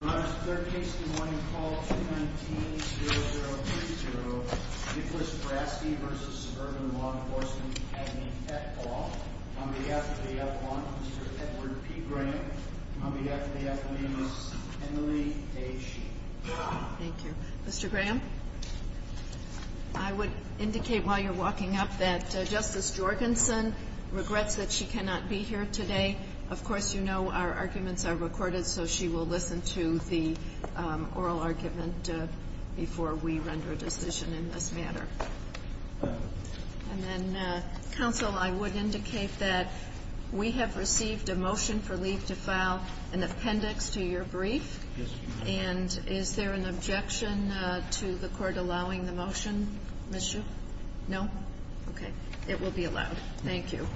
Your Honor, third case in the morning, call 219-0030, Nicholas Braski v. Suburban Law Enforcement Academy, Pet Hall. On behalf of the F1, Mr. Edward P. Graham. On behalf of the F1, Ms. Emily Day Sheehan. Thank you. Mr. Graham, I would indicate while you're walking up that Justice Jorgensen regrets that she cannot be here today. Of course, you know our arguments are recorded, so she will listen to the oral argument before we render a decision in this matter. And then, counsel, I would indicate that we have received a motion for leave to file an appendix to your brief. And is there an objection to the court allowing the motion, Ms. Sheehan? No? Okay. It will be allowed. Thank you.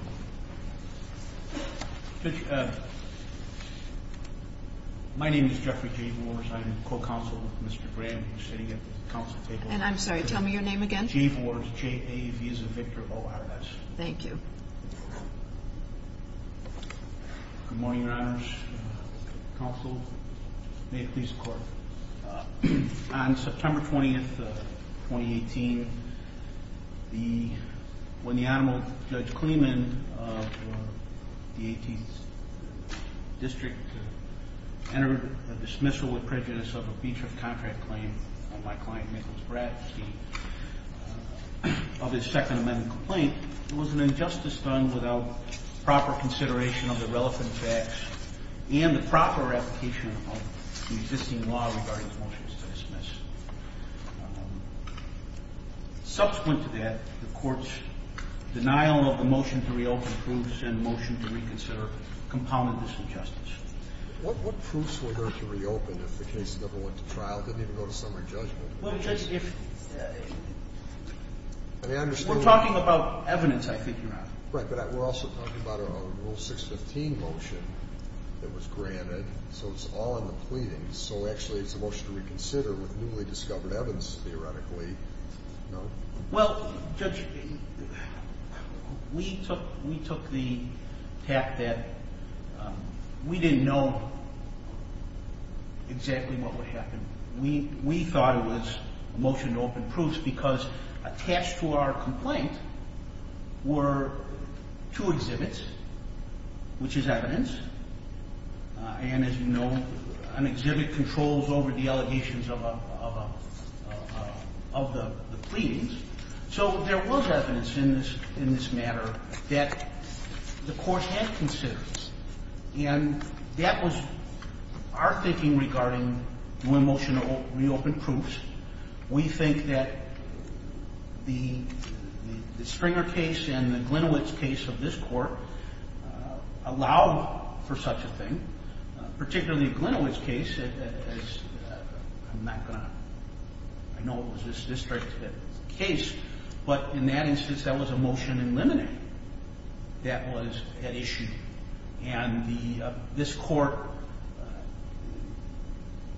My name is Jeffrey J. Vores. I'm co-counsel with Mr. Graham. I'm sitting at the counsel table. And I'm sorry, tell me your name again. J. Vores. J-A-V-E-S-A-V-I-C-T-E-R-O-R-S. Thank you. Good morning, Your Honors. Counsel, may it please the court. On September 20th, 2018, when the Honorable Judge Kleeman of the 18th District entered a dismissal with prejudice of a breach of contract claim on my client, Nichols Bradstein, of his Second Amendment complaint, there was an injustice done without proper consideration of the relevant facts and the proper application of the existing law regarding motions to dismiss. Subsequent to that, the Court's denial of the motion to reopen proves and motion to reconsider compounded this injustice. What proofs were there to reopen if the case never went to trial, didn't even go to summary judgment? Well, Judge, if... We're talking about evidence, I think, Your Honor. Right, but we're also talking about a Rule 615 motion that was granted, so it's all in the pleadings. So actually it's a motion to reconsider with newly discovered evidence, theoretically, no? Well, Judge, we took the tact that we didn't know exactly what would happen. We thought it was motion to open proofs because attached to our complaint were two exhibits, which is evidence. And as you know, an exhibit controls over the allegations of the pleadings. So there was evidence in this matter that the Court had considered, and that was our thinking regarding new motion to reopen proofs. We think that the Stringer case and the Glinowitz case of this Court allowed for such a thing, particularly Glinowitz case. I'm not going to... I know it was this district's case, but in that instance, that was a motion in limine that was at issue. And this Court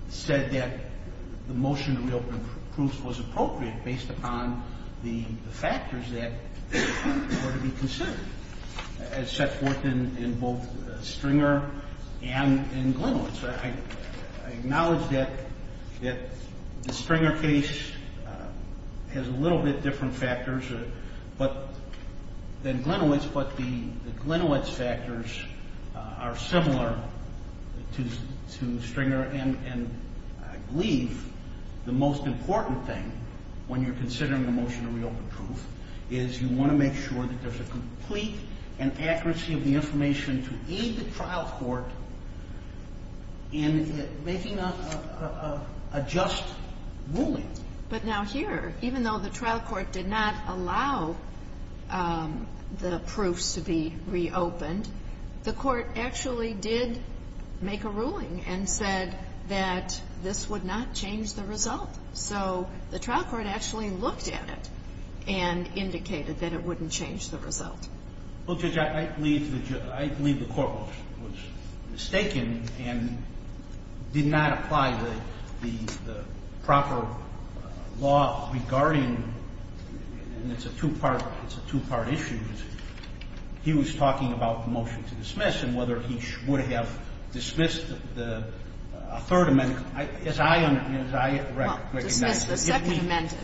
said that the motion to reopen proofs was appropriate based upon the factors that were to be considered as set forth in both Stringer and in Glinowitz. I acknowledge that the Stringer case has a little bit different factors than Glinowitz, but the Glinowitz factors are similar to Stringer. And I believe the most important thing, when you're considering the motion to reopen proof, is you want to make sure that there's a complete and accuracy of the information to aid the trial court in making a just ruling. But now here, even though the trial court did not allow the proofs to be reopened, the Court actually did make a ruling and said that this would not change the result. So the trial court actually looked at it and indicated that it wouldn't change the result. Well, Judge, I believe the court was mistaken and did not apply the proper law regarding and it's a two-part issue. He was talking about the motion to dismiss and whether he would have dismissed a third amendment, as I recognize. Well, dismissed the second amendment.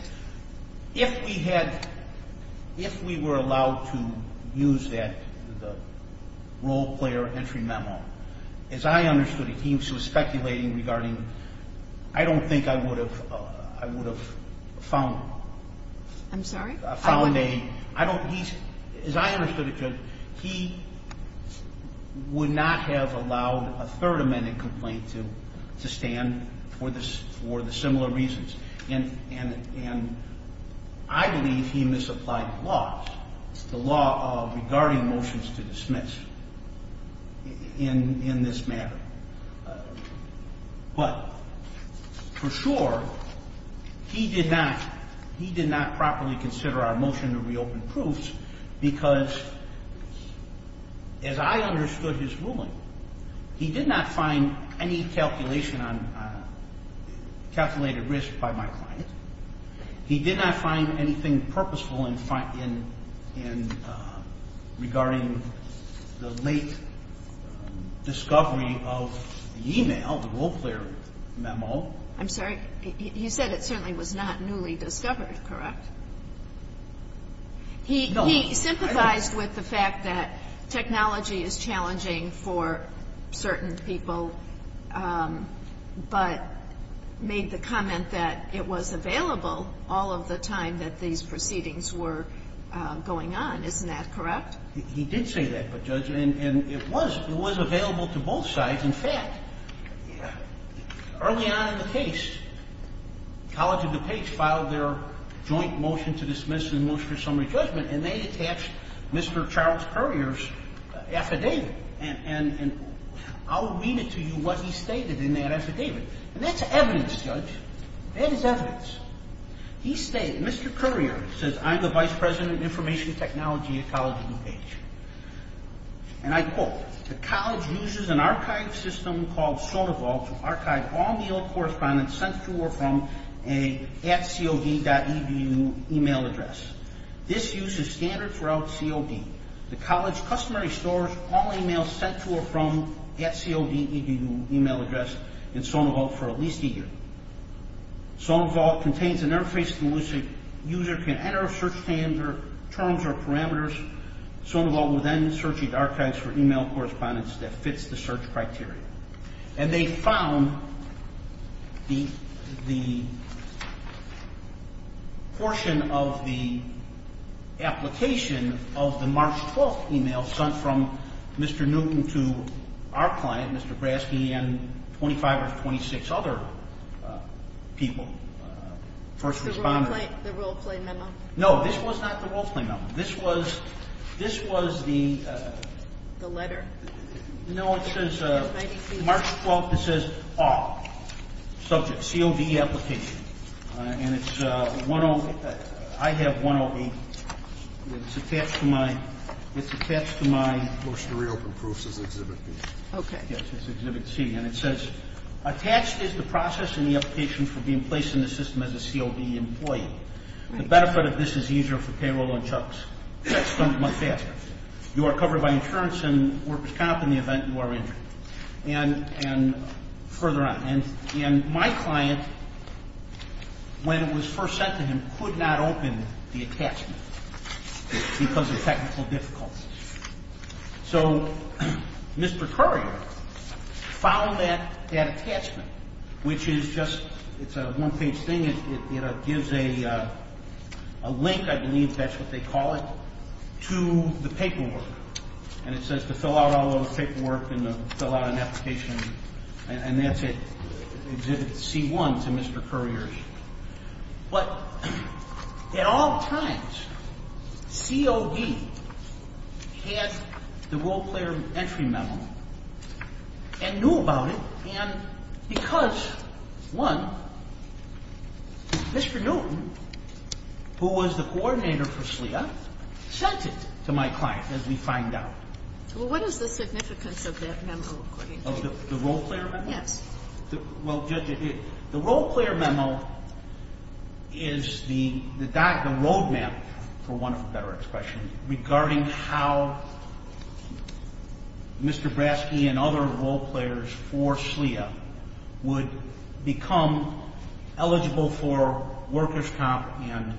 If we had, if we were allowed to use that, the role-player entry memo, as I understood it, he was speculating regarding, I don't think I would have, I would have found. I'm sorry? Found a, I don't, he's, as I understood it, Judge, he would not have allowed a third amendment complaint to stand for the similar reasons. And I believe he misapplied the laws, the law regarding motions to dismiss in this matter. But for sure, he did not, he did not properly consider our motion to reopen proofs because, as I understood his ruling, he did not find any calculation on, calculated risk by my client. He did not find anything purposeful in regarding the late discovery of the e-mail, the role-player memo. I'm sorry? He said it certainly was not newly discovered, correct? No. He sympathized with the fact that technology is challenging for certain people, but made the comment that it was available all of the time that these proceedings were going on. Isn't that correct? He did say that, but, Judge, and it was, it was available to both sides. In fact, early on in the case, College of DuPage filed their joint motion to dismiss and motion for summary judgment, and they attached Mr. Charles Currier's affidavit. And I'll read it to you, what he stated in that affidavit. And that's evidence, Judge. That is evidence. He stated, Mr. Currier says, I'm the vice president of information technology at College of DuPage. And I quote, the college uses an archive system called Soda Vault to archive all mail correspondence sent to or from a at cod.edu e-mail address. This uses standards throughout COD. The college customarily stores all e-mails sent to or from at cod.edu e-mail address in Soda Vault for at least a year. Soda Vault contains an interface that a user can enter search terms or parameters. Soda Vault will then search the archives for e-mail correspondence that fits the search criteria. And they found the portion of the application of the March 12th e-mail sent from Mr. Newton to our client, Mr. Graske, and 25 or 26 other people, first responders. The role-play memo? No, this was not the role-play memo. This was the – The letter. No, it says March 12th. It says all. Subject, COD application. And it's 108. I have 108. It's attached to my – It's attached to my – Post to reopen proofs is Exhibit B. Okay. Yes, it's Exhibit C. And it says, attached is the process and the application for being placed in the system as a COD employee. The benefit of this is easier for payroll and chucks. That's done much faster. You are covered by insurance and workers' comp in the event you are injured. And further on. And my client, when it was first sent to him, could not open the attachment because of technical difficulties. So Mr. Currier found that attachment, which is just – it's a one-page thing. It gives a link, I believe that's what they call it, to the paperwork. And it says to fill out all of the paperwork and to fill out an application. And that's it. Exhibit C1 to Mr. Currier. But at all times, COD had the role-player entry memo and knew about it. And because, one, Mr. Newton, who was the coordinator for SLEA, sent it to my client, as we find out. Well, what is the significance of that memo, according to you? The role-player memo? Yes. Well, Judge, the role-player memo is the roadmap, for want of a better expression, regarding how Mr. Braske and other role-players for SLEA would become eligible for workers' comp and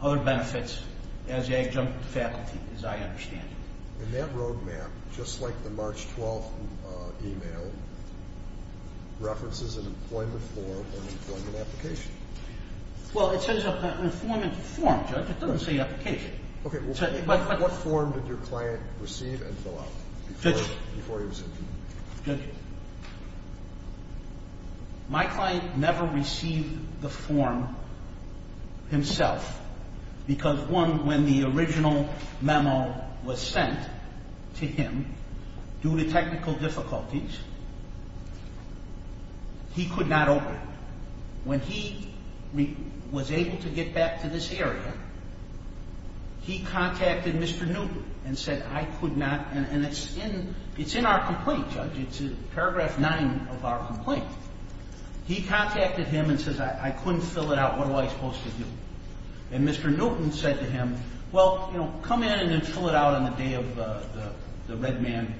other benefits as adjunct faculty, as I understand. And that roadmap, just like the March 12th e-mail, references an employment form or an employment application. Well, it says an employment form, Judge. It doesn't say application. Okay. What form did your client receive and fill out before he was interviewed? Judge, my client never received the form himself because, one, when the original memo was sent to him, due to technical difficulties, he could not open it. When he was able to get back to this area, he contacted Mr. Newton and said, I could not, and it's in our complaint, Judge. It's in paragraph 9 of our complaint. He contacted him and says, I couldn't fill it out. What am I supposed to do? And Mr. Newton said to him, well, you know, come in and then fill it out on the day of the red man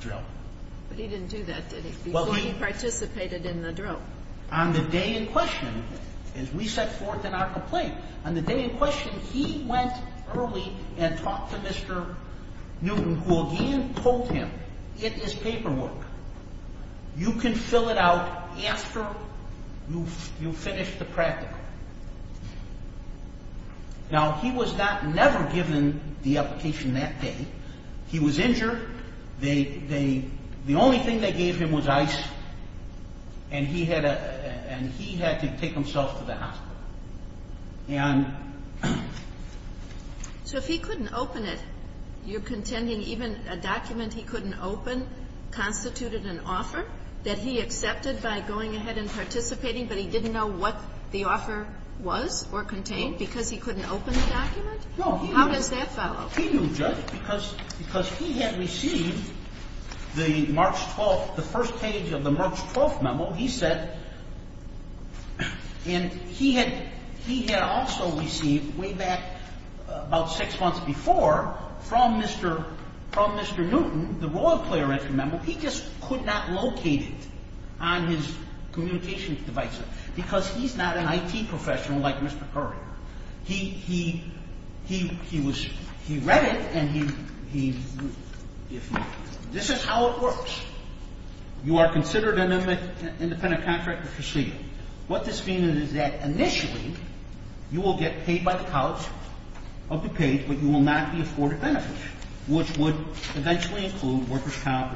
drill. But he didn't do that, did he, before he participated in the drill? On the day in question, he went early and talked to Mr. Newton, who again told him, it is paperwork. You can fill it out after you finish the practical. Now, he was never given the application that day. He was injured. The only thing they gave him was ice, and he had to take himself to the hospital. And so if he couldn't open it, you're contending even a document he couldn't open constituted an offer that he accepted by going ahead and participating, but he didn't know what the offer was or contained because he couldn't open the document? How does that follow? Well, he knew, Judge, because he had received the March 12th, the first page of the March 12th memo. He said, and he had also received way back about six months before from Mr. Newton, the Royal Player Entry Memo. He just could not locate it on his communications device because he's not an IT professional like Mr. Currier. He read it, and this is how it works. You are considered an independent contractor proceeding. What this means is that initially, you will get paid by the College of DuPage, but you will not be afforded benefits, which would eventually include workers' comp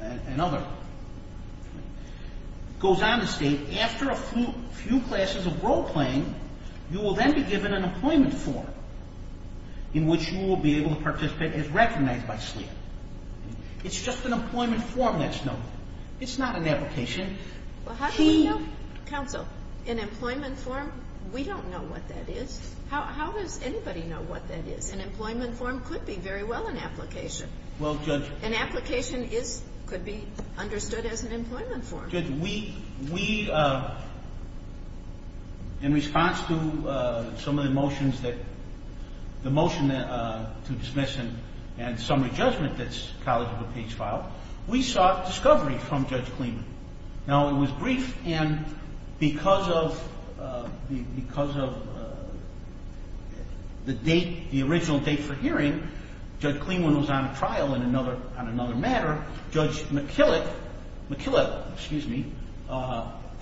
and other. It goes on to state, after a few classes of role-playing, you will then be given an employment form in which you will be able to participate as recognized by SLIA. It's just an employment form that's known. It's not an application. Well, how do we know, counsel, an employment form? We don't know what that is. How does anybody know what that is? An employment form could be very well an application. Well, Judge. An application could be understood as an employment form. Judge, we, in response to some of the motions that, the motion to dismiss and summary judgment that's College of DuPage filed, we sought discovery from Judge Kleenman. Now, it was brief, and because of the date, the original date for hearing, Judge Kleenman was on a trial on another matter. Judge McKillop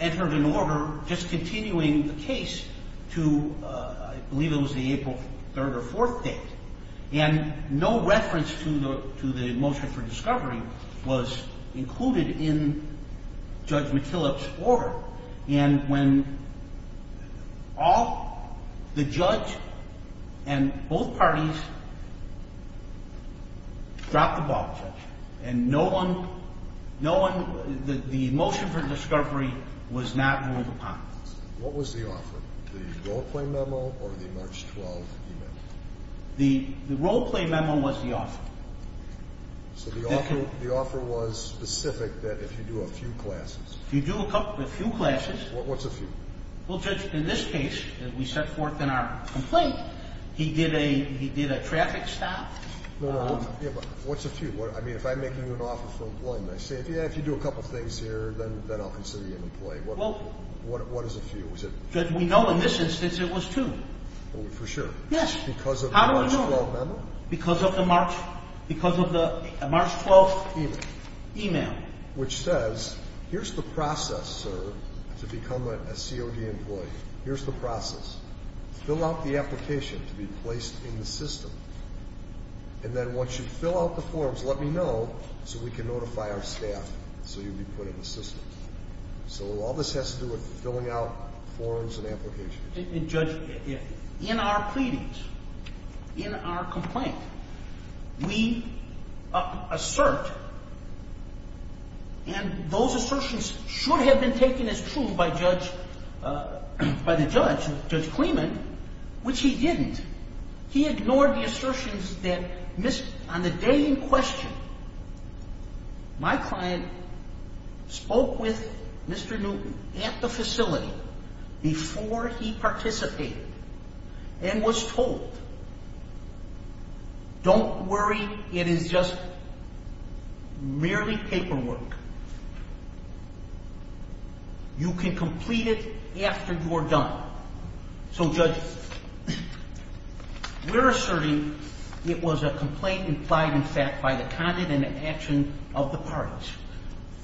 entered an order discontinuing the case to, I believe it was the April 3rd or 4th date, and no reference to the motion for discovery was included in Judge McKillop's order. And when all, the judge and both parties dropped the ball, Judge, and no one, no one, the motion for discovery was not ruled upon. What was the offer, the role-playing memo or the March 12th email? The role-playing memo was the offer. So the offer, the offer was specific that if you do a few classes. If you do a couple, a few classes. What's a few? Well, Judge, in this case, we set forth in our complaint, he did a, he did a traffic stop. No, no, what's a few? I mean, if I'm making you an offer for employment, I say, yeah, if you do a couple things here, then I'll consider you an employee. Well. What is a few? Judge, we know in this instance it was two. For sure? Yes. Because of the March 12th memo? Because of the March, because of the March 12th email. Email. Which says, here's the process, sir, to become a COD employee. Here's the process. Fill out the application to be placed in the system. And then once you fill out the forms, let me know so we can notify our staff so you'll be put in the system. So all this has to do with filling out forms and applications. Judge, in our pleadings, in our complaint, we assert, and those assertions should have been taken as true by Judge, by the judge, Judge Clemen, which he didn't. He ignored the assertions that, on the day in question, my client spoke with Mr. Newton at the facility before he participated and was told, don't worry, it is just merely paperwork. You can complete it after you're done. So, Judge, we're asserting it was a complaint implied in fact by the conduct and action of the parties.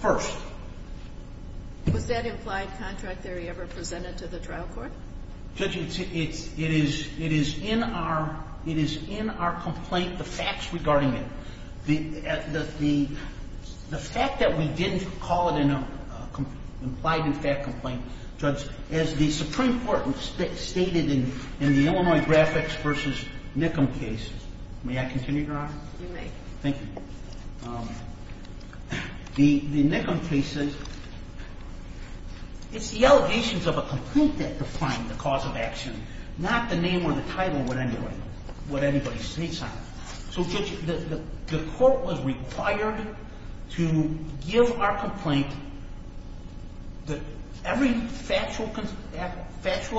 First. Was that implied contract theory ever presented to the trial court? Judge, it is in our complaint, the facts regarding it. The fact that we didn't call it an implied in fact complaint, Judge, as the Supreme Court stated in the Illinois graphics versus Nickham case. May I continue, Your Honor? You may. Thank you. The Nickham cases, it's the allegations of a complaint that define the cause of action, not the name or the title of what anybody states on it. So, Judge, the court was required to give our complaint that every factual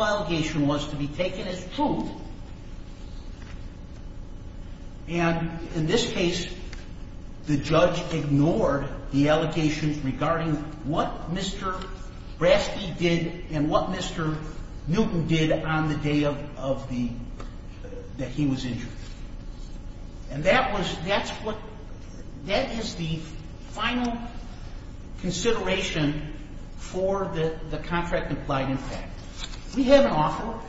allegation was to be taken as true. And in this case, the judge ignored the allegations regarding what Mr. Braske did and what Mr. Newton did on the day of the, that he was injured. And that was, that's what, that is the final consideration for the contract implied in fact. We have an offer.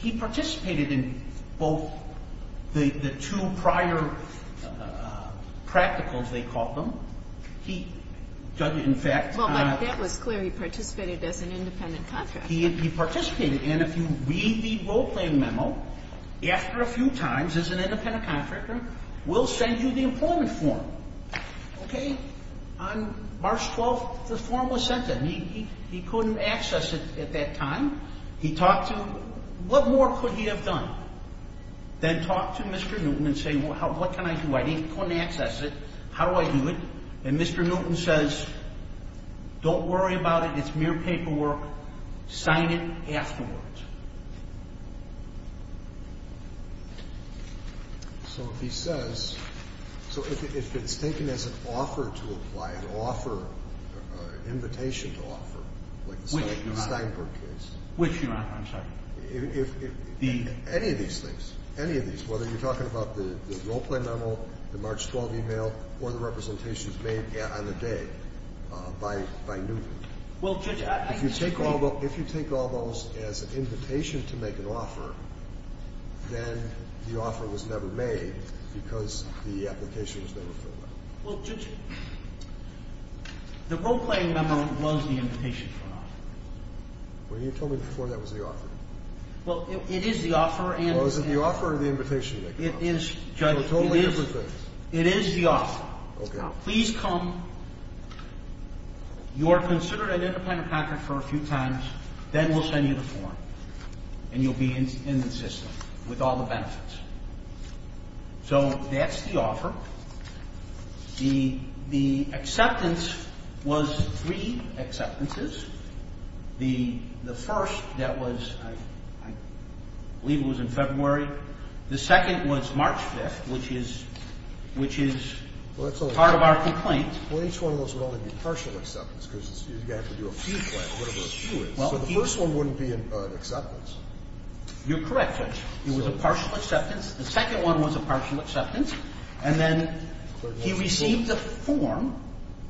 He participated in both the two prior practicals, they called them. He, Judge, in fact. Well, but that was clear. He participated as an independent contractor. He participated. And if you read the role-playing memo, after a few times as an independent contractor, we'll send you the employment form. Okay? On March 12th, the form was sent to him. And he couldn't access it at that time. He talked to, what more could he have done than talk to Mr. Newton and say, well, what can I do? I couldn't access it. How do I do it? And Mr. Newton says, don't worry about it. It's mere paperwork. Sign it afterwards. So he says, so if it's taken as an offer to apply, an offer, an invitation to offer, like the Steinberg case. Which you're not. Which you're not. I'm sorry. If any of these things, any of these, whether you're talking about the role-playing memo, the March 12th email, or the representations made on the day by Newton. Well, Judge, I can explain. If you take all those as an invitation to make an offer, then the offer was never made because the application was never filled out. Well, Judge, the role-playing memo was the invitation for an offer. Well, you told me before that was the offer. Well, it is the offer. Well, is it the offer or the invitation to make an offer? It is, Judge. So totally different things. It is the offer. Okay. Please come. You are considered an independent applicant for a few times. Then we'll send you the form. And you'll be in the system with all the benefits. So that's the offer. The acceptance was three acceptances. The first that was, I believe it was in February. The second was March 5th, which is part of our complaint. Well, each one of those would only be partial acceptance because you'd have to do a few claims, whatever a few is. So the first one wouldn't be an acceptance. You're correct, Judge. It was a partial acceptance. The second one was a partial acceptance. And then he received the form.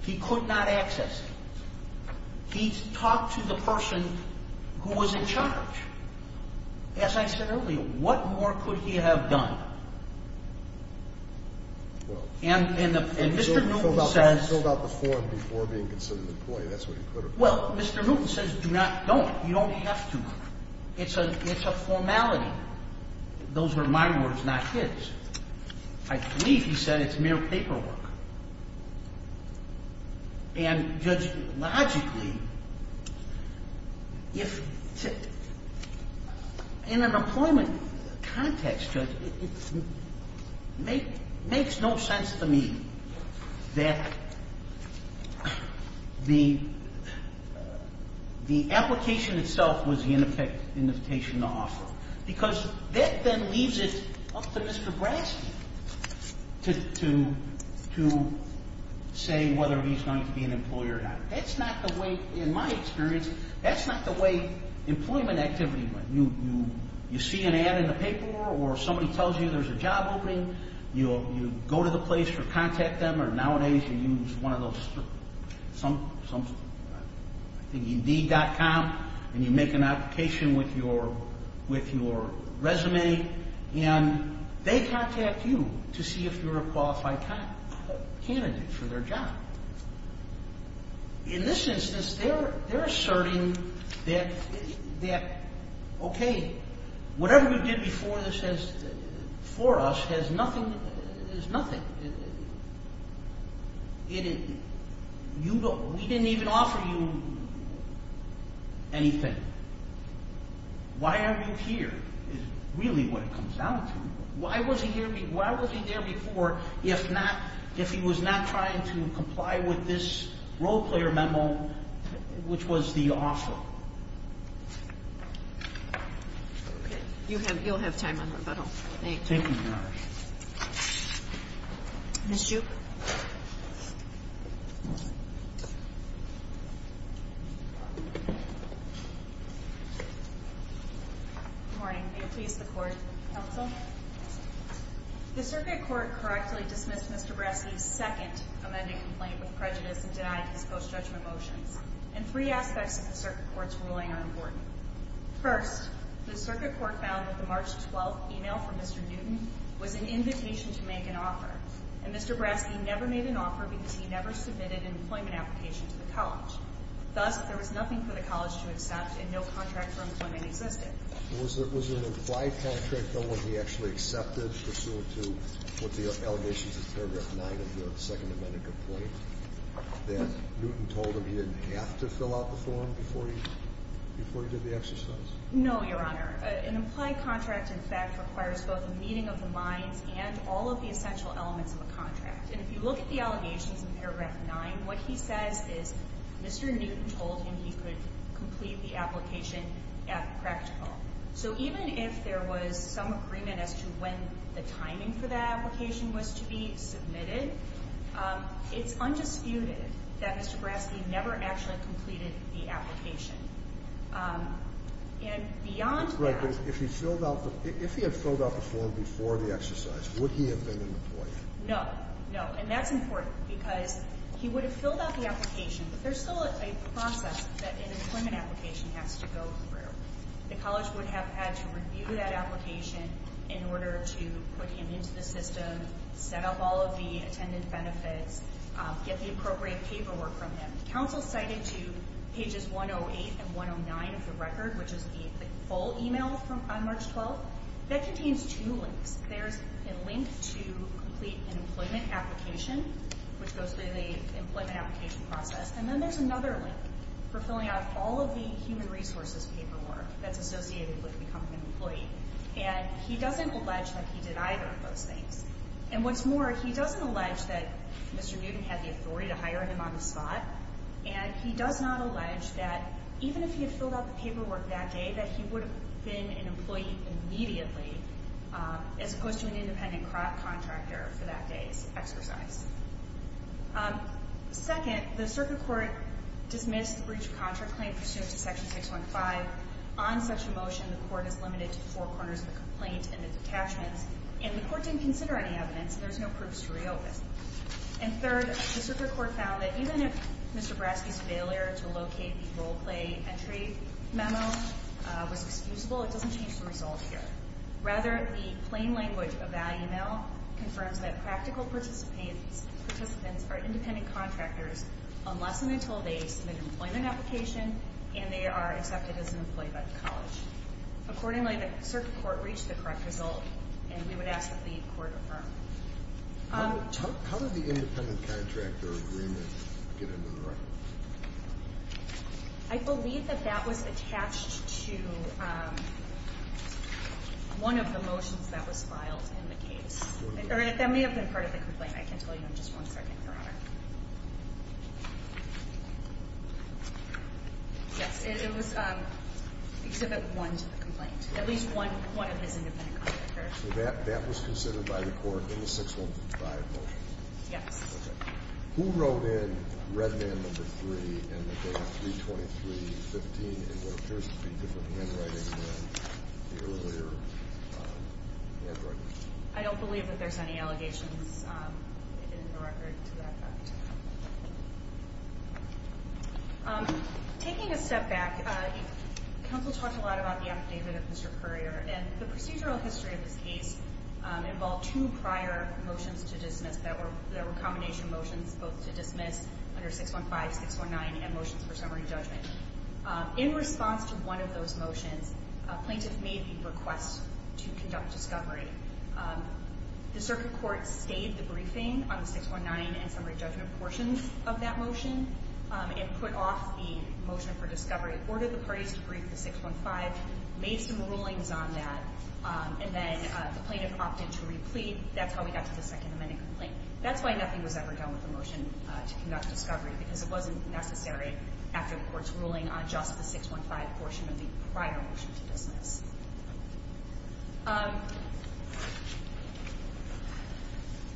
He could not access it. He talked to the person who was in charge. As I said earlier, what more could he have done? And Mr. Newton says – Well, you filled out the form before being considered an employee. That's what you could have done. Well, Mr. Newton says do not, don't. You don't have to. It's a formality. Those were my words, not his. I believe he said it's mere paperwork. And, Judge, logically, in an employment context, Judge, it makes no sense to me that the application itself was the invitation to offer because that then leaves it up to Mr. Bransky to say whether he's going to be an employer or not. That's not the way, in my experience, that's not the way employment activity went. You see an ad in the paper or somebody tells you there's a job opening. You go to the place or contact them or nowadays you use one of those – I think ed.com and you make an application with your resume. And they contact you to see if you're a qualified candidate for their job. In this instance, they're asserting that, okay, whatever we did before this for us is nothing. We didn't even offer you anything. Why are you here is really what it comes down to. Why was he there before if not – if he was not trying to comply with this role-player memo, which was the offer? Okay. You'll have time on the rebuttal. Thank you. Thank you, Your Honor. Ms. Duke? Good morning. May it please the Court. Counsel? The Circuit Court correctly dismissed Mr. Braske's second amended complaint with prejudice and denied his post-judgment motions. And three aspects of the Circuit Court's ruling are important. First, the Circuit Court found that the March 12th email from Mr. Newton was an invitation to make an offer. And Mr. Braske never made an offer because he never submitted an employment application to the college. Thus, there was nothing for the college to accept and no contract for employment existed. Was there an implied contract, though, when he actually accepted pursuant to what the allegations in paragraph 9 of your second amended complaint that Newton told him he didn't have to fill out the form before he did the exercise? No, Your Honor. An implied contract, in fact, requires both a meeting of the minds and all of the essential elements of a contract. And if you look at the allegations in paragraph 9, what he says is Mr. Newton told him he could complete the application at practical. So even if there was some agreement as to when the timing for that application was to be submitted, it's undisputed that Mr. Braske never actually completed the application. And beyond that... Right, but if he had filled out the form before the exercise, would he have been an employee? No, no. And that's important because he would have filled out the application, but there's still a process that an employment application has to go through. The college would have had to review that application in order to put him into the system, set up all of the attendant benefits, get the appropriate paperwork from him. Council cited to pages 108 and 109 of the record, which is the full email on March 12th, that contains two links. There's a link to complete an employment application, which goes through the employment application process, and then there's another link for filling out all of the human resources paperwork that's associated with becoming an employee. And he doesn't allege that he did either of those things. And what's more, he doesn't allege that Mr. Newton had the authority to hire him on the spot, and he does not allege that even if he had filled out the paperwork that day, that he would have been an employee immediately as opposed to an independent contractor for that day's exercise. Second, the circuit court dismissed the breach of contract claim pursuant to Section 615. On such a motion, the court is limited to four corners of the complaint and the detachments, and the court didn't consider any evidence, and there's no proofs to reopen. And third, the circuit court found that even if Mr. Braske's failure to locate the role play entry memo was excusable, it doesn't change the result here. Rather, the plain language eval email confirms that practical participants are independent contractors unless and until they submit an employment application and they are accepted as an employee by the college. Accordingly, the circuit court reached the correct result, and we would ask that the court affirm. How did the independent contractor agreement get into the record? I believe that that was attached to one of the motions that was filed in the case. That may have been part of the complaint. I can tell you in just one second, Your Honor. Yes, it was Exhibit 1 to the complaint. At least one of his independent contractors. So that was considered by the court in the 615 motion? Yes. Okay. Who wrote in Redman No. 3 in the data 323.15 in what appears to be different handwriting than the earlier handwriting? I don't believe that there's any allegations in the record to that fact. Taking a step back, counsel talked a lot about the updatement of Mr. Currier, and the procedural history of this case involved two prior motions to dismiss that were combination motions both to dismiss under 615, 619, and motions for summary judgment. In response to one of those motions, a plaintiff made the request to conduct discovery. The circuit court stayed the briefing on the 619 and summary judgment portions of that motion and put off the motion for discovery, ordered the parties to brief the 615, made some rulings on that, and then the plaintiff opted to re-plead. That's how we got to the Second Amendment complaint. That's why nothing was ever done with the motion to conduct discovery, because it wasn't necessary after the court's ruling on just the 615 portion of the prior motion to dismiss.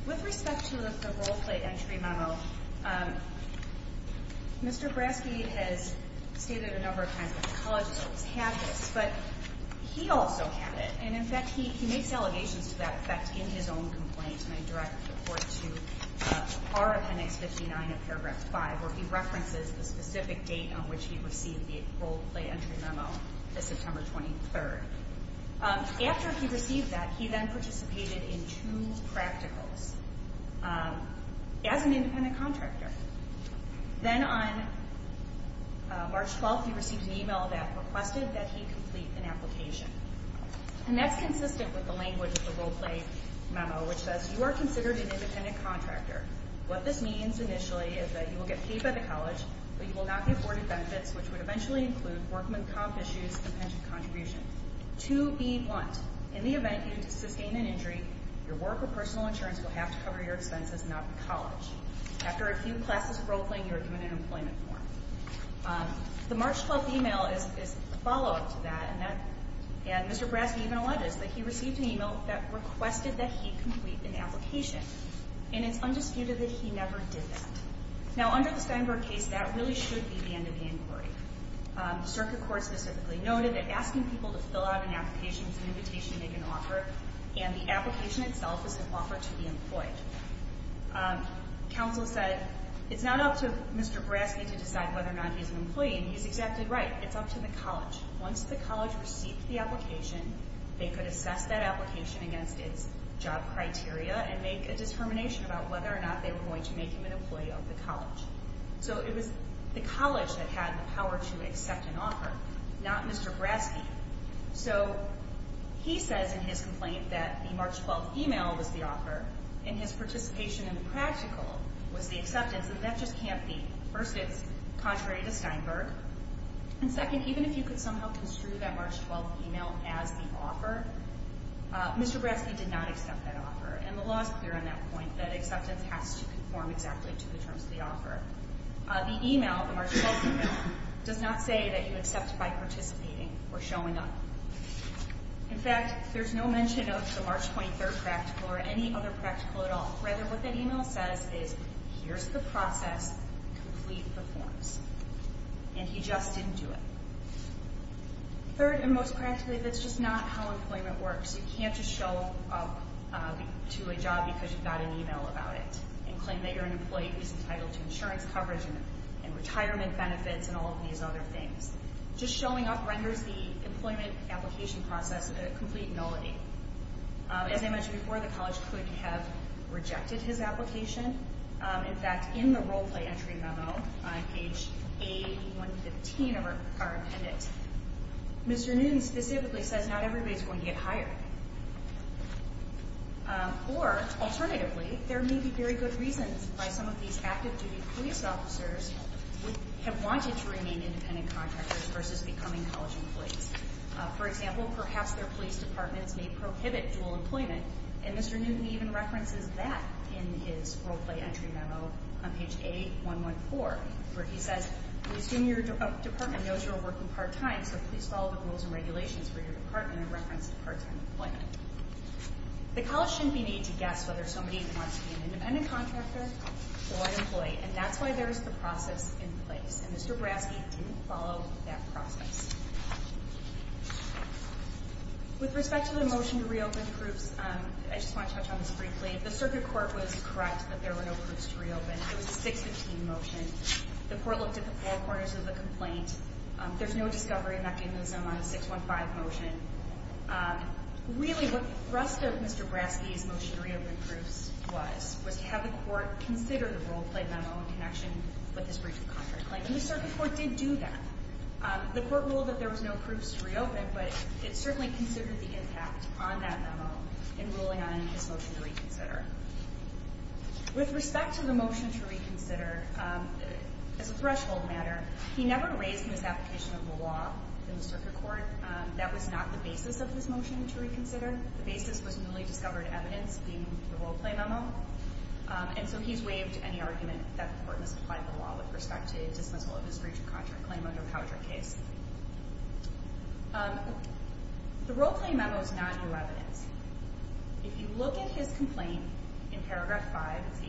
With respect to the role-play entry memo, Mr. Braske has stated a number of times that the college has always had this, but he also had it. And, in fact, he makes allegations to that effect in his own complaint, and I direct the report to part of Hennix 59 of paragraph 5, where he references the specific date on which he received the role-play entry memo, the September 23rd. After he received that, he then participated in two practicals as an independent contractor. Then on March 12th, he received an e-mail that requested that he complete an application. And that's consistent with the language of the role-play memo, which says, you are considered an independent contractor. What this means, initially, is that you will get paid by the college, but you will not be afforded benefits, which would eventually include workman comp issues and pension contributions. To be blunt, in the event you sustain an injury, your work or personal insurance will have to cover your expenses and not the college. After a few classes of role-playing, you are given an employment form. The March 12th e-mail is a follow-up to that, and Mr. Braske even alleges that he received an e-mail that requested that he complete an application, and it's undisputed that he never did that. Now, under the Steinberg case, that really should be the end of the inquiry. The circuit court specifically noted that asking people to fill out an application is an invitation to make an offer, and the application itself is an offer to be employed. Counsel said it's not up to Mr. Braske to decide whether or not he's an employee, and he's exactly right. It's up to the college. Once the college received the application, they could assess that application against its job criteria and make a determination about whether or not they were going to make him an employee of the college. So it was the college that had the power to accept an offer, not Mr. Braske. So he says in his complaint that the March 12th e-mail was the offer, and his participation in the practical was the acceptance, and that just can't be. First, it's contrary to Steinberg. And second, even if you could somehow construe that March 12th e-mail as the offer, Mr. Braske did not accept that offer, and the law is clear on that point, that acceptance has to conform exactly to the terms of the offer. The e-mail, the March 12th e-mail, does not say that you accept by participating or showing up. In fact, there's no mention of the March 23rd practical or any other practical at all. Rather, what that e-mail says is, here's the process, complete the forms. And he just didn't do it. Third, and most practically, that's just not how employment works. You can't just show up to a job because you've got an e-mail about it and claim that you're an employee who's entitled to insurance coverage and retirement benefits and all of these other things. Just showing up renders the employment application process a complete nullity. As I mentioned before, the college could have rejected his application. In fact, in the role-play entry memo on page A-115 of our appendix, Mr. Newton specifically says not everybody's going to get hired. Or, alternatively, there may be very good reasons why some of these active-duty police officers would have wanted to remain independent contractors versus becoming college employees. For example, perhaps their police departments may prohibit dual employment, and Mr. Newton even references that in his role-play entry memo on page A-114, where he says, we assume your department knows you're working part-time, so please follow the rules and regulations for your department in reference to part-time employment. The college shouldn't be made to guess whether somebody wants to be an independent contractor or an employee, and that's why there's the process in place. And Mr. Braske didn't follow that process. With respect to the motion to reopen proofs, I just want to touch on this briefly. The circuit court was correct that there were no proofs to reopen. It was a 615 motion. The court looked at the four corners of the complaint. There's no discovery mechanism on a 615 motion. Really, what the thrust of Mr. Braske's motion to reopen proofs was, have the court consider the role-play memo in connection with this breach of contract claim. And the circuit court did do that. The court ruled that there was no proofs to reopen, but it certainly considered the impact on that memo in ruling on his motion to reconsider. With respect to the motion to reconsider, as a threshold matter, he never raised in his application of the law in the circuit court that was not the basis of his motion to reconsider. The basis was newly discovered evidence, being the role-play memo. And so he's waived any argument that the court misapplied the law with respect to dismissal of his breach of contract claim under Powdrick case. The role-play memo is not new evidence. If you look at his complaint in paragraph 5, it's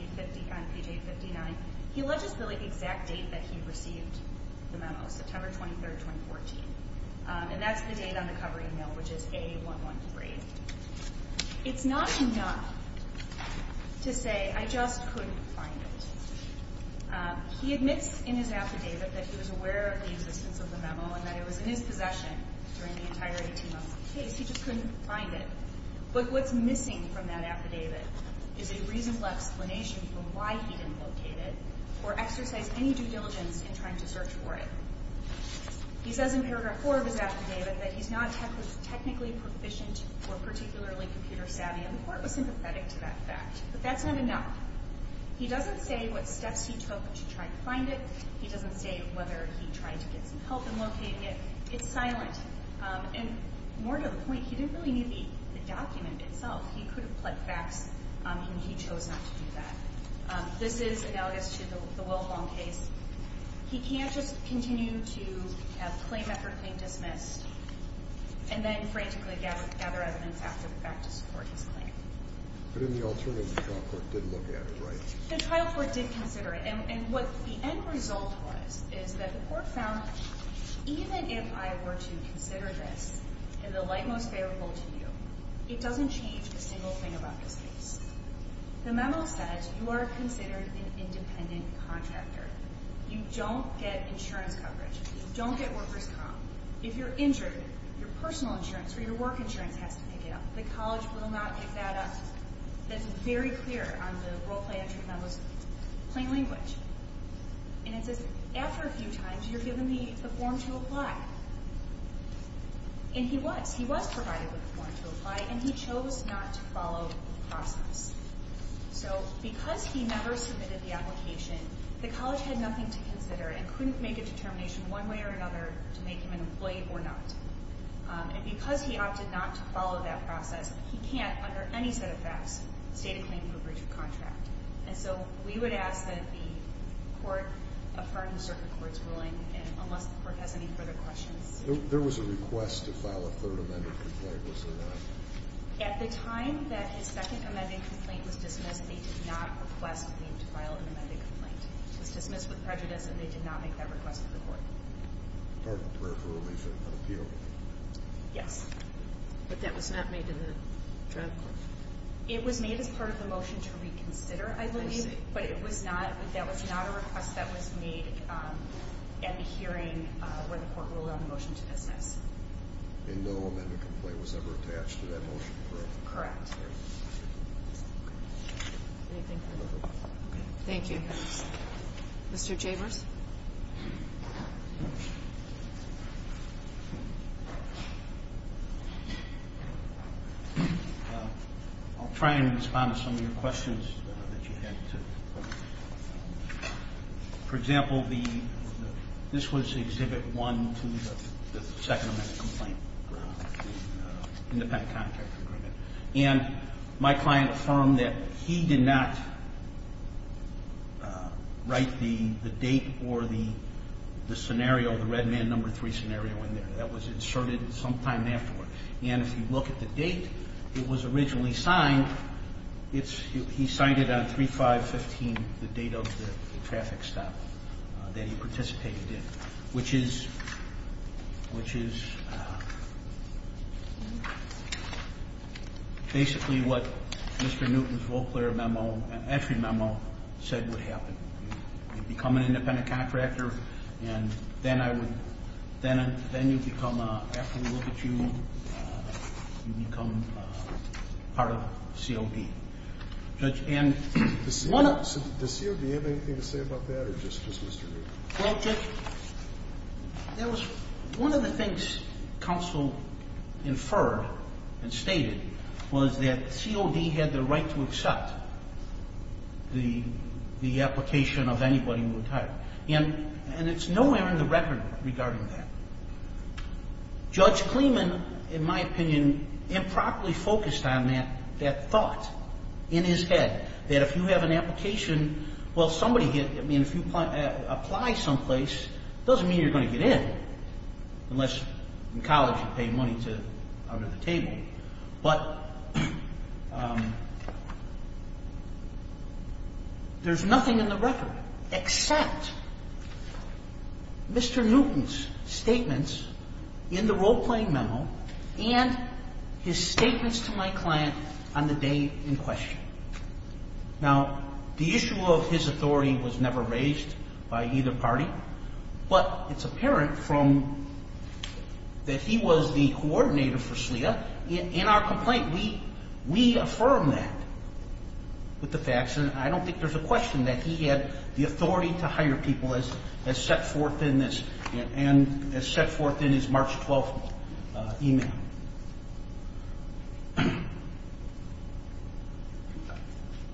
on page 859, he alleges the exact date that he received the memo, September 23, 2014. And that's the date on the covering note, which is A113. It's not enough to say, I just couldn't find it. He admits in his affidavit that he was aware of the existence of the memo and that it was in his possession during the entire 18 months of the case. He just couldn't find it. But what's missing from that affidavit is a reasonable explanation for why he didn't locate it or exercise any due diligence in trying to search for it. He says in paragraph 4 of his affidavit that he's not technically proficient or particularly computer savvy. And the court was sympathetic to that fact. But that's not enough. He doesn't say what steps he took to try to find it. He doesn't say whether he tried to get some help in locating it. It's silent. And more to the point, he didn't really need the document itself. He could have put facts, and he chose not to do that. This is analogous to the Wolfong case. He can't just continue to have claim effort being dismissed and then frantically gather evidence after the fact to support his claim. But in the alternative, the trial court did look at it, right? The trial court did consider it. And what the end result was is that the court found, even if I were to consider this in the light most favorable to you, it doesn't change a single thing about this case. The memo says you are considered an independent contractor. You don't get insurance coverage. You don't get workers' comp. If you're injured, your personal insurance or your work insurance has to pick it up. The college will not pick that up. That's very clear on the role-play entry memo's plain language. And it says, after a few times, you're given the form to apply. And he was. He was provided with the form to apply, and he chose not to follow the process. So because he never submitted the application, the college had nothing to consider and couldn't make a determination one way or another to make him an employee or not. And because he opted not to follow that process, he can't, under any set of facts, state a claim for breach of contract. And so we would ask that the court affirm the circuit court's ruling, unless the court has any further questions. There was a request to file a third amended complaint. Was there not? At the time that his second amended complaint was dismissed, they did not request for him to file an amended complaint. It was dismissed with prejudice, and they did not make that request to the court. Pardon the prayer for a release of appeal. Yes. But that was not made in the trial court? It was made as part of the motion to reconsider, I believe. I see. But it was not. That was not a request that was made at the hearing where the court ruled on the motion to dismiss. And no amended complaint was ever attached to that motion, correct? Correct. Okay. Anything further? Okay. Thank you. Mr. Chambers? I'll try and respond to some of your questions that you had. For example, this was Exhibit 1 to the second amended complaint around the independent contract agreement. And my client affirmed that he did not write the date of the agreement or the scenario, the red man number three scenario in there. That was inserted sometime afterward. And if you look at the date it was originally signed, he signed it on 3-5-15, the date of the traffic stop that he participated in, which is basically what Mr. Newton's Volclair memo, entry memo said would happen. You become an independent contractor and then you become, after we look at you, you become part of COD. Judge, does COD have anything to say about that or just Mr. Newton? Well, Judge, one of the things counsel inferred and stated was that COD had the right to accept the application of anybody who retired. And it's nowhere in the record regarding that. Judge Kleeman, in my opinion, improperly focused on that thought in his head, that if you have an application, well, if you apply someplace, it doesn't mean you're going to get in, unless in college you pay money out of the table. But there's nothing in the record except Mr. Newton's statements in the role-playing memo and his statements to my client on the day in question. Now, the issue of his authority was never raised by either party, but it's apparent that he was the coordinator for SLEA. In our complaint, we affirm that with the facts, and I don't think there's a question that he had the authority to hire people as set forth in his March 12th email.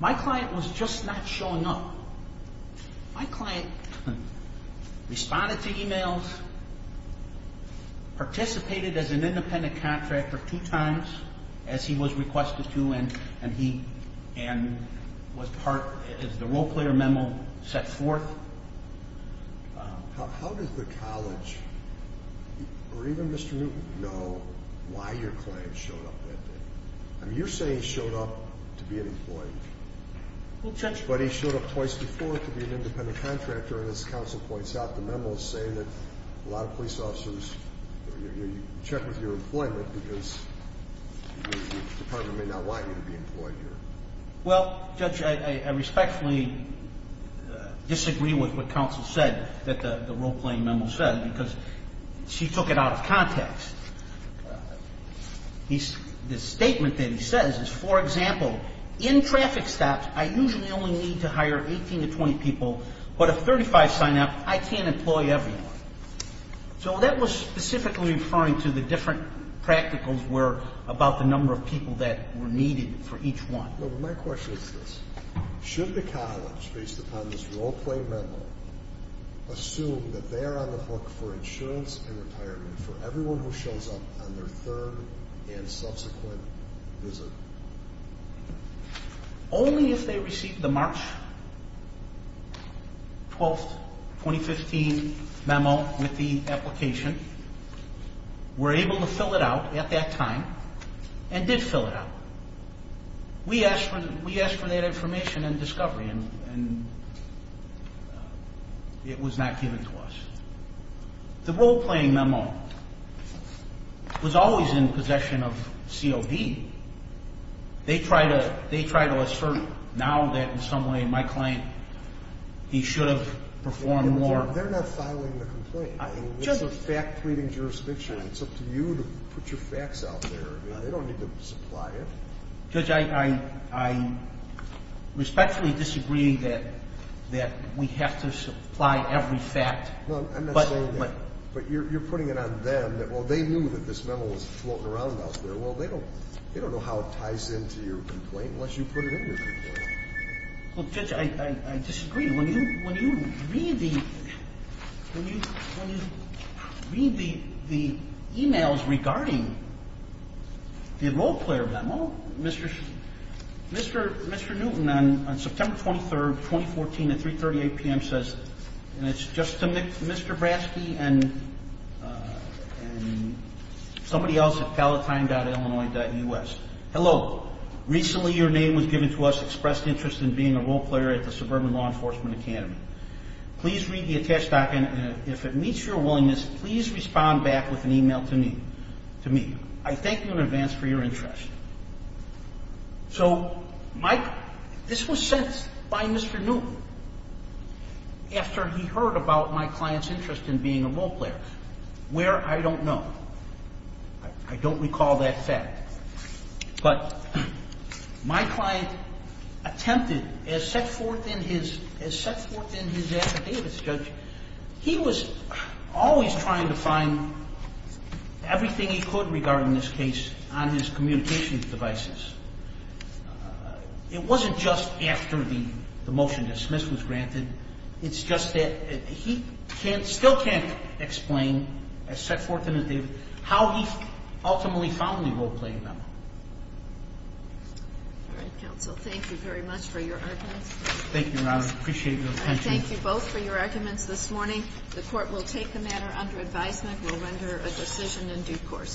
My client was just not showing up. My client responded to emails, participated as an independent contractor two times, as he was requested to, and was part of the role-player memo set forth. How does the college or even Mr. Newton know why your client showed up that day? I mean, you're saying he showed up to be an employee. But he showed up twice before to be an independent contractor, and as counsel points out, the memo is saying that a lot of police officers check with your employment because the department may not want you to be employed here. Well, Judge, I respectfully disagree with what counsel said, what the role-playing memo said, because she took it out of context. The statement that he says is, for example, in traffic stops I usually only need to hire 18 to 20 people, but if 35 sign up, I can't employ everyone. So that was specifically referring to the different practicals about the number of people that were needed for each one. My question is this. Should the college, based upon this role-playing memo, assume that they're on the hook for insurance and retirement for everyone who shows up on their third and subsequent visit? Only if they received the March 12, 2015 memo with the application, were able to fill it out at that time, and did fill it out. We asked for that information in discovery, and it was not given to us. The role-playing memo was always in possession of COB. They try to assert now that in some way my client, he should have performed more. They're not filing the complaint. It's a fact-tweeting jurisdiction. It's up to you to put your facts out there. They don't need to supply it. Judge, I respectfully disagree that we have to supply every fact. No, I'm not saying that. But you're putting it on them that, well, they knew that this memo was floating around out there. Well, they don't know how it ties into your complaint unless you put it in your complaint. Well, Judge, I disagree. When you read the emails regarding the role-player memo, Mr. Newton on September 23, 2014 at 3.38 p.m. says, and it's just to Mr. Braske and somebody else at palatine.illinois.us, Hello, recently your name was given to us, expressed interest in being a role-player at the Suburban Law Enforcement Academy. Please read the attached document, and if it meets your willingness, please respond back with an email to me. I thank you in advance for your interest. So this was sent by Mr. Newton after he heard about my client's interest in being a role-player, where I don't know. I don't recall that fact. But my client attempted, as set forth in his affidavits, Judge, he was always trying to find everything he could regarding this case on his communications devices. It wasn't just after the motion to dismiss was granted. It's just that he still can't explain, as set forth in his affidavits, how he ultimately found the role-playing memo. All right, counsel, thank you very much for your arguments. Thank you, Your Honor. I appreciate your attention. Thank you both for your arguments this morning. The court will take the matter under advisement. We'll render a decision in due course.